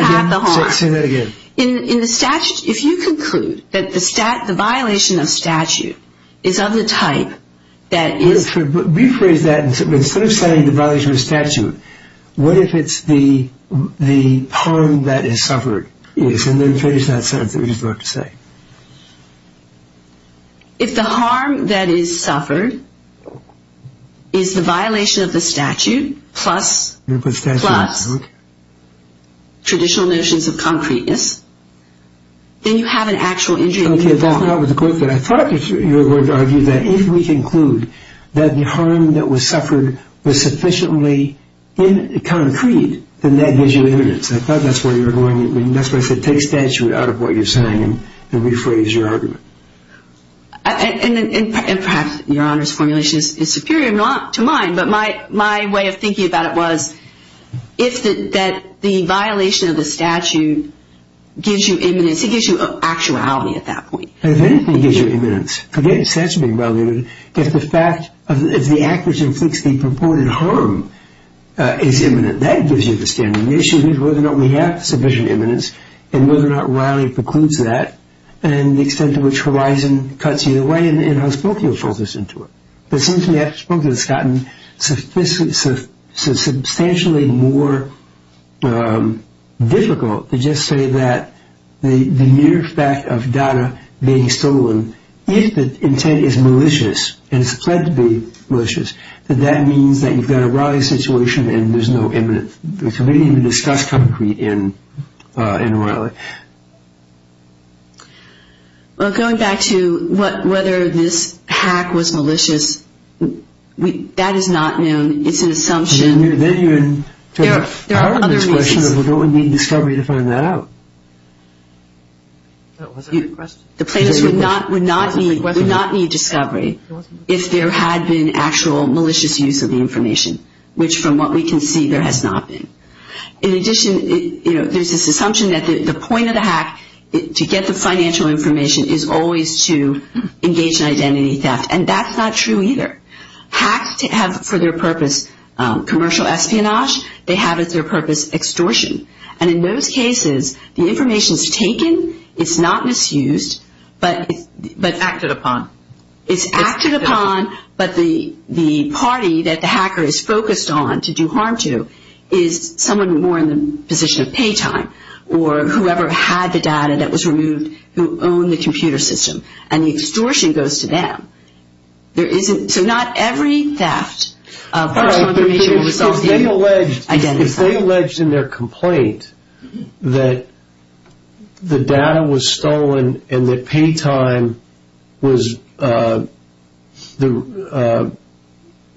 have the harm. Say that again. In the statute, if you conclude that the violation of statute is of the type that is... If the harm that is suffered is... And then finish that sentence that we just left to say. If the harm that is suffered is the violation of the statute plus... You're going to put statute on it.... plus traditional notions of concreteness, then you have an actual injury involved. Okay, that's not what I was going to say. I thought you were going to argue that if we conclude that the harm that was suffered was sufficiently concrete, then that gives you imminence. I thought that's where you were going. That's why I said take statute out of what you're saying and rephrase your argument. And perhaps Your Honor's formulation is superior to mine, but my way of thinking about it was if the violation of the statute gives you imminence, it gives you actuality at that point. If anything gives you imminence, forget the statute being violated, if the fact of... if the act which inflicts the purported harm is imminent, that gives you the standing. The issue is whether or not we have sufficient imminence and whether or not Riley precludes that and the extent to which Horizon cuts you away and how Spokiel falls into it. It seems to me how Spokiel has gotten substantially more difficult to just say that the mere fact of data being stolen, if the intent is malicious and it's pledged to be malicious, that that means that you've got a Riley situation and there's no imminence. So we didn't even discuss concrete in Riley. Well, going back to whether this hack was malicious, that is not known. It's an assumption. Then you're in trouble. There are other reasons. We don't need discovery to find that out. That wasn't a question. The plaintiffs would not need discovery if there had been actual malicious use of the information, which from what we can see there has not been. In addition, there's this assumption that the point of the hack, to get the financial information, is always to engage in identity theft, and that's not true either. Hacks have for their purpose commercial espionage. They have as their purpose extortion. And in those cases, the information is taken, it's not misused. It's acted upon. It's acted upon, but the party that the hacker is focused on to do harm to is someone more in the position of pay time or whoever had the data that was removed who owned the computer system, and the extortion goes to them. So not every theft of personal information will resolve the identity theft. If they alleged in their complaint that the data was stolen and that pay time was the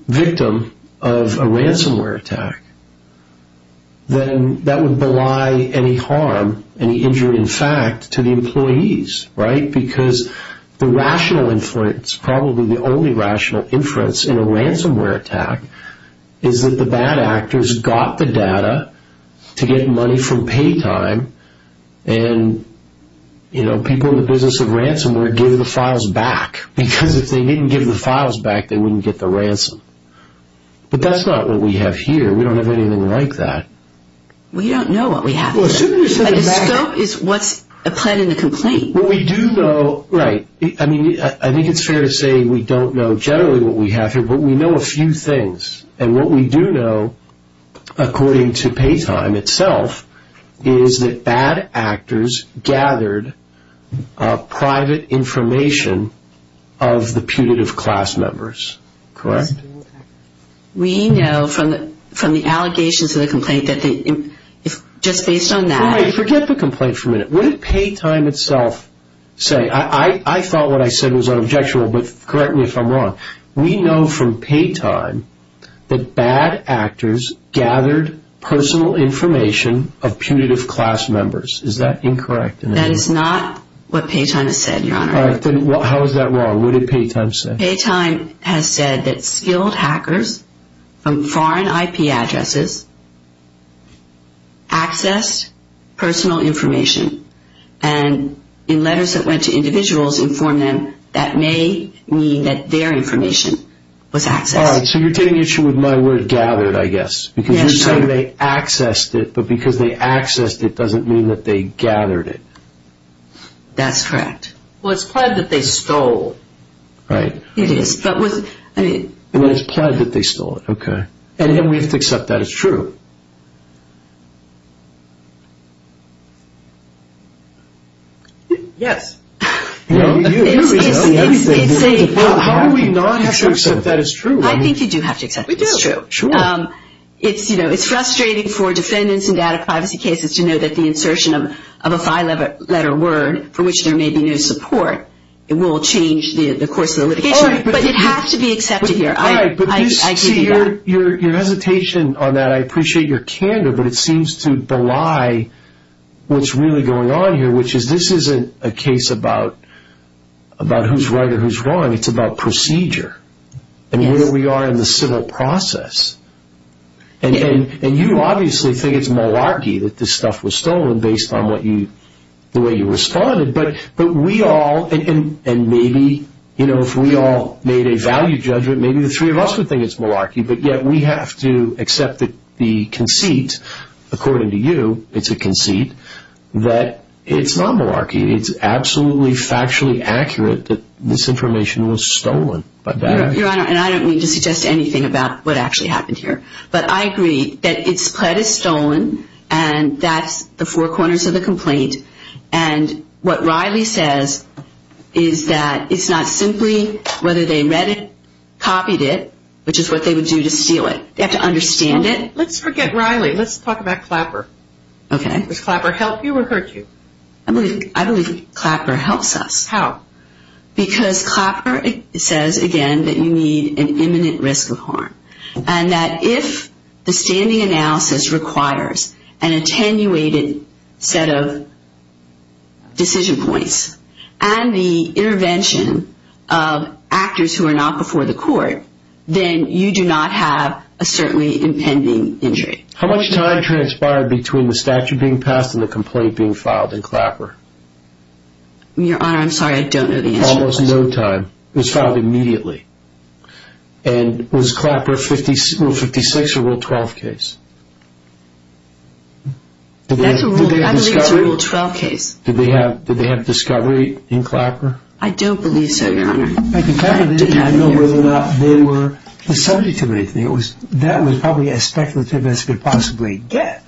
victim of a ransomware attack, then that would belie any harm, any injury in fact, to the employees, right? Because the rational inference, probably the only rational inference in a ransomware attack, is that the bad actors got the data to get money from pay time, and, you know, people in the business of ransomware give the files back because if they didn't give the files back, they wouldn't get the ransom. But that's not what we have here. We don't have anything like that. We don't know what we have here. The scope is what's planned in the complaint. What we do know, right, I mean, I think it's fair to say we don't know generally what we have here, but we know a few things. And what we do know, according to pay time itself, is that bad actors gathered private information of the putative class members, correct? We know from the allegations in the complaint that they, just based on that. Forget the complaint for a minute. What did pay time itself say? I thought what I said was unobjectual, but correct me if I'm wrong. We know from pay time that bad actors gathered personal information of putative class members. Is that incorrect? That is not what pay time has said, Your Honor. All right. Then how is that wrong? What did pay time say? Pay time has said that skilled hackers from foreign IP addresses accessed personal information. And in letters that went to individuals informed them that may mean that their information was accessed. All right. So you're taking issue with my word gathered, I guess. Because you're saying they accessed it, but because they accessed it doesn't mean that they gathered it. That's correct. Well, it's pled that they stole. Right. It is. And it's pled that they stole it. Okay. And then we have to accept that as true. Yes. How do we not have to accept that as true? I think you do have to accept that as true. We do. Sure. It's frustrating for defendants in data privacy cases to know that the insertion of a five-letter word, for which there may be no support, will change the course of the litigation. But it has to be accepted here. I see your hesitation on that. I appreciate your candor, but it seems to belie what's really going on here, which is this isn't a case about who's right or who's wrong. It's about procedure and where we are in the civil process. And you obviously think it's malarkey that this stuff was stolen based on the way you responded. But we all, and maybe, you know, if we all made a value judgment, maybe the three of us would think it's malarkey. But yet we have to accept the conceit, according to you, it's a conceit, that it's not malarkey. It's absolutely factually accurate that this information was stolen. Your Honor, and I don't mean to suggest anything about what actually happened here, but I agree that it's pled is stolen and that's the four corners of the complaint. And what Riley says is that it's not simply whether they read it, copied it, which is what they would do to steal it. They have to understand it. Let's forget Riley. Let's talk about Clapper. Okay. Does Clapper help you or hurt you? I believe Clapper helps us. Because Clapper says, again, that you need an imminent risk of harm. And that if the standing analysis requires an attenuated set of decision points and the intervention of actors who are not before the court, then you do not have a certainly impending injury. How much time transpired between the statute being passed and the complaint being filed in Clapper? Your Honor, I'm sorry, I don't know the answer to this. Almost no time. It was filed immediately. And was Clapper Rule 56 or Rule 12 case? I believe it's a Rule 12 case. Did they have discovery in Clapper? I don't believe so, Your Honor. I don't know whether or not they were the subject of anything. That was probably as speculative as you could possibly get.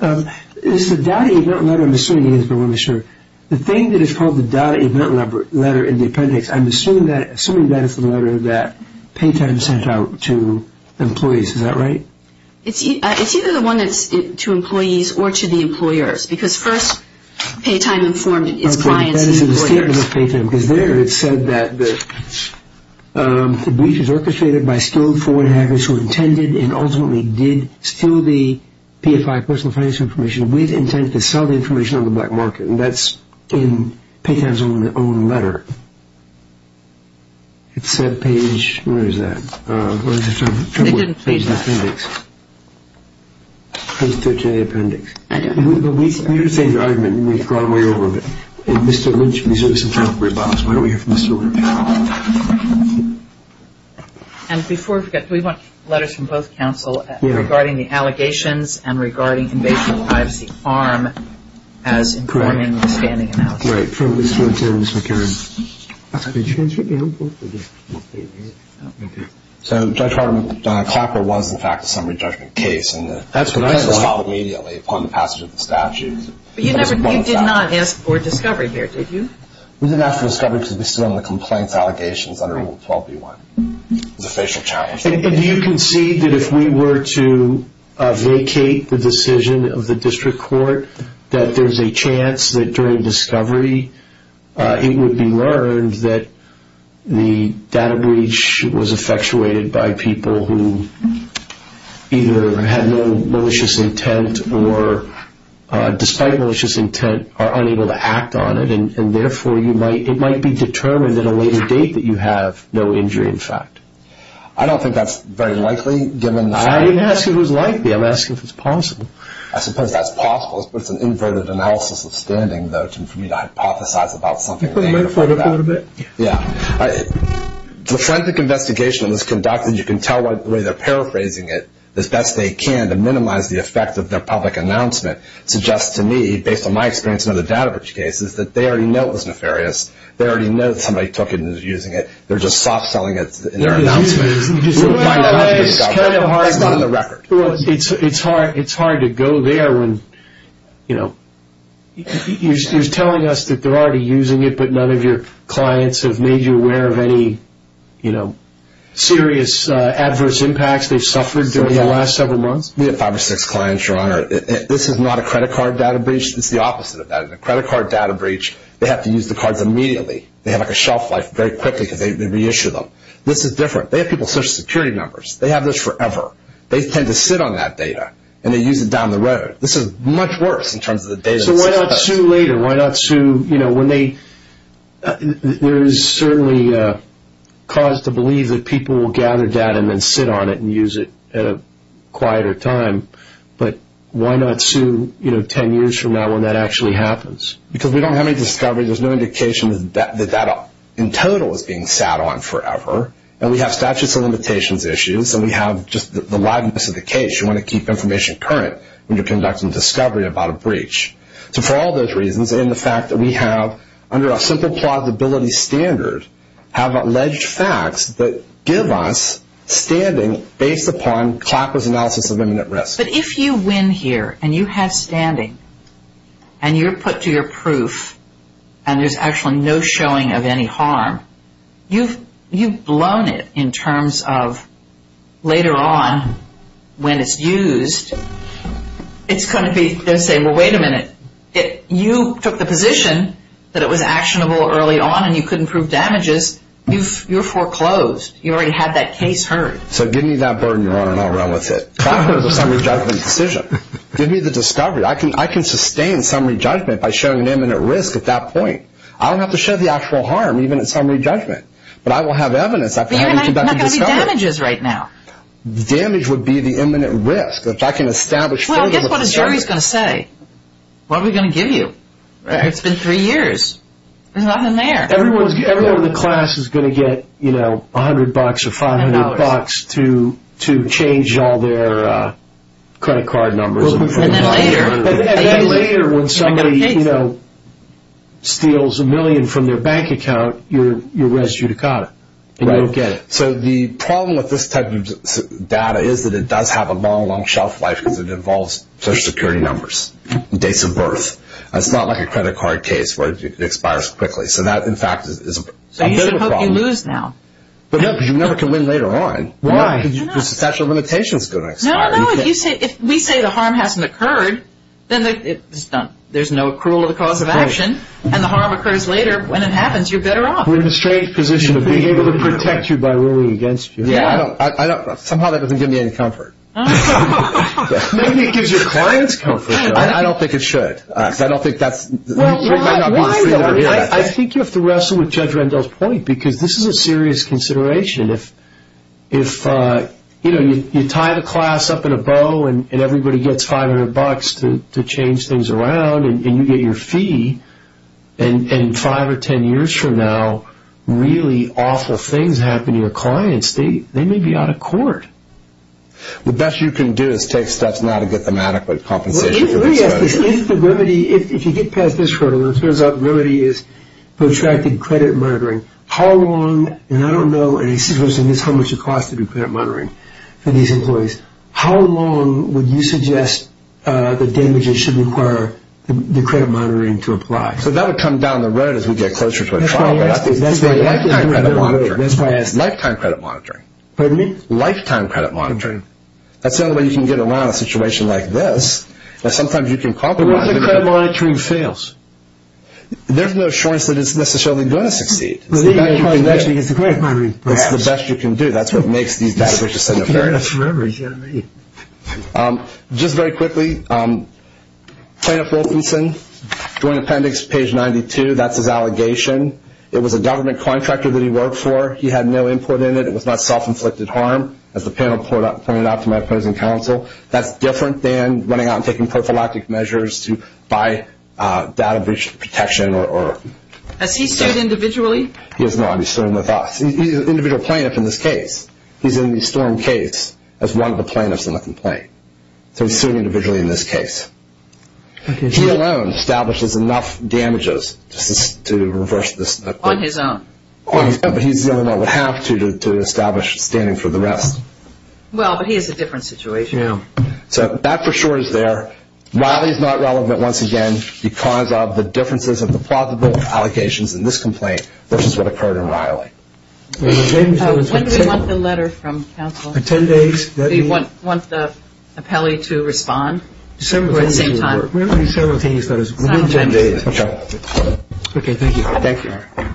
It's the data event letter, I'm assuming, I just want to be sure. The thing that is called the data event letter in the appendix, I'm assuming that is the letter that Paytime sent out to employees. Is that right? It's either the one that's to employees or to the employers, because first Paytime informed its clients and employers. Because there it said that the breach was orchestrated by skilled foreigners who intended and ultimately did steal the PFI, personal finance information, with intent to sell the information on the black market. And that's in Paytime's own letter. It said page, where is that? They didn't page that. Page the appendix. Page 13 of the appendix. I don't know. You're saying the argument, and we've gone way over it. Mr. Lynch reserves some time for rebuttals. Why don't we hear from Mr. Lynch? And before we forget, we want letters from both counsel regarding the allegations and regarding invasion of privacy of ARM as informing the standing analysis. Right. From Mr. O'Toole and Ms. McCarran. So Judge Harper, Clapper was, in fact, a summary judgment case, and the complaint was filed immediately upon the passage of the statute. But you did not ask for discovery here, did you? We didn't ask for discovery because we still had the complaints allegations under Rule 12B1. It was a facial challenge. And do you concede that if we were to vacate the decision of the district court, that there's a chance that during discovery it would be learned that the data breach was effectuated by people who either had no malicious intent or, despite malicious intent, are unable to act on it, and therefore it might be determined at a later date that you have no injury, in fact? I don't think that's very likely, given the fact that... I didn't ask you if it was likely. I'm asking if it's possible. I suppose that's possible. It's an inverted analysis of standing, though, for me to hypothesize about something... Can you put the microphone up for a little bit? Yeah. The forensic investigation that was conducted, you can tell by the way they're paraphrasing it, as best they can to minimize the effect of their public announcement, suggests to me, based on my experience in other data breach cases, that they already know it was nefarious. They already know that somebody took it and is using it. They're just soft-selling it in their announcement. It's kind of hard to go there when, you know, you're telling us that they're already using it, but none of your clients have made you aware of any serious adverse impacts they've suffered during the last several months? We have five or six clients, Your Honor. This is not a credit card data breach. It's the opposite of that. In a credit card data breach, they have to use the cards immediately. They have, like, a shelf life very quickly because they reissue them. This is different. They have people's Social Security numbers. They have this forever. They tend to sit on that data, and they use it down the road. This is much worse in terms of the data itself. So why not sue later? Why not sue, you know, when they... There is certainly cause to believe that people will gather data and then sit on it and use it at a quieter time, but why not sue, you know, 10 years from now when that actually happens? Because we don't have any discovery. There's no indication that that in total is being sat on forever, and we have statutes of limitations issues, and we have just the liveness of the case. You want to keep information current when you're conducting discovery about a breach. So for all those reasons and the fact that we have, under a simple plausibility standard, have alleged facts that give us standing based upon Clapper's analysis of imminent risk. But if you win here, and you have standing, and you're put to your proof, and there's actually no showing of any harm, you've blown it in terms of later on when it's used. It's going to be, they'll say, well, wait a minute. You took the position that it was actionable early on, and you couldn't prove damages. You're foreclosed. You already had that case heard. So give me that burden, Your Honor, and I'll run with it. Clapper is a summary judgment decision. Give me the discovery. I can sustain summary judgment by showing an imminent risk at that point. I don't have to show the actual harm, even in summary judgment, but I will have evidence after having conducted discovery. There are not going to be damages right now. Damage would be the imminent risk, which I can establish. Well, guess what a jury's going to say. What are we going to give you? It's been three years. There's nothing there. Everyone in the class is going to get $100 or $500 to change all their credit card numbers. And then later, when somebody steals a million from their bank account, you're res judicata, and you don't get it. So the problem with this type of data is that it does have a long, long shelf life because it involves Social Security numbers and dates of birth. It's not like a credit card case where it expires quickly. So that, in fact, is a bit of a problem. So you should hope you lose now. No, because you never can win later on. Why? Because the statute of limitations is going to expire. No, no. If we say the harm hasn't occurred, then it's done. There's no accrual of the cause of action, and the harm occurs later. When it happens, you're better off. We're in a strange position of being able to protect you by ruling against you. Somehow that doesn't give me any comfort. Maybe it gives your clients comfort, though. I don't think it should. I think you have to wrestle with Judge Rendell's point because this is a serious consideration. If you tie the class up in a bow and everybody gets $500 to change things around and you get your fee, and five or ten years from now, really awful things happen to your clients, they may be out of court. The best you can do is take steps now to get them adequate compensation. Let me ask this. If the remedy, if you get past this hurdle, and it turns out the remedy is protracted credit monitoring, how long, and I don't know, and this is how much it costs to do credit monitoring for these employees, how long would you suggest the damages should require the credit monitoring to apply? So that would come down the road as we get closer to a trial. That's why I asked this. Lifetime credit monitoring. Pardon me? Lifetime credit monitoring. That's the only way you can get around a situation like this. Sometimes you can compromise. But what if the credit monitoring fails? There's no assurance that it's necessarily going to succeed. It's the best you can do. That's what makes these damages significant. Just very quickly, plaintiff Wilkinson, Joint Appendix, page 92, that's his allegation. It was a government contractor that he worked for. He had no import in it. It was not self-inflicted harm, as the panel pointed out to my opposing counsel. That's different than running out and taking prophylactic measures to buy data protection. Has he sued individually? He has not. He's suing with us. He's an individual plaintiff in this case. He's in the storm case as one of the plaintiffs in the complaint. So he's suing individually in this case. He alone establishes enough damages to reverse this. On his own. But he's the only one that would have to to establish standing for the rest. Well, but he has a different situation. Yeah. So that for sure is there. Riley is not relevant once again because of the differences of the plausible allegations in this complaint versus what occurred in Riley. When do we want the letter from counsel? For 10 days. Do you want the appellee to respond at the same time? We don't need simultaneous letters. Okay. Okay, thank you. Thank you.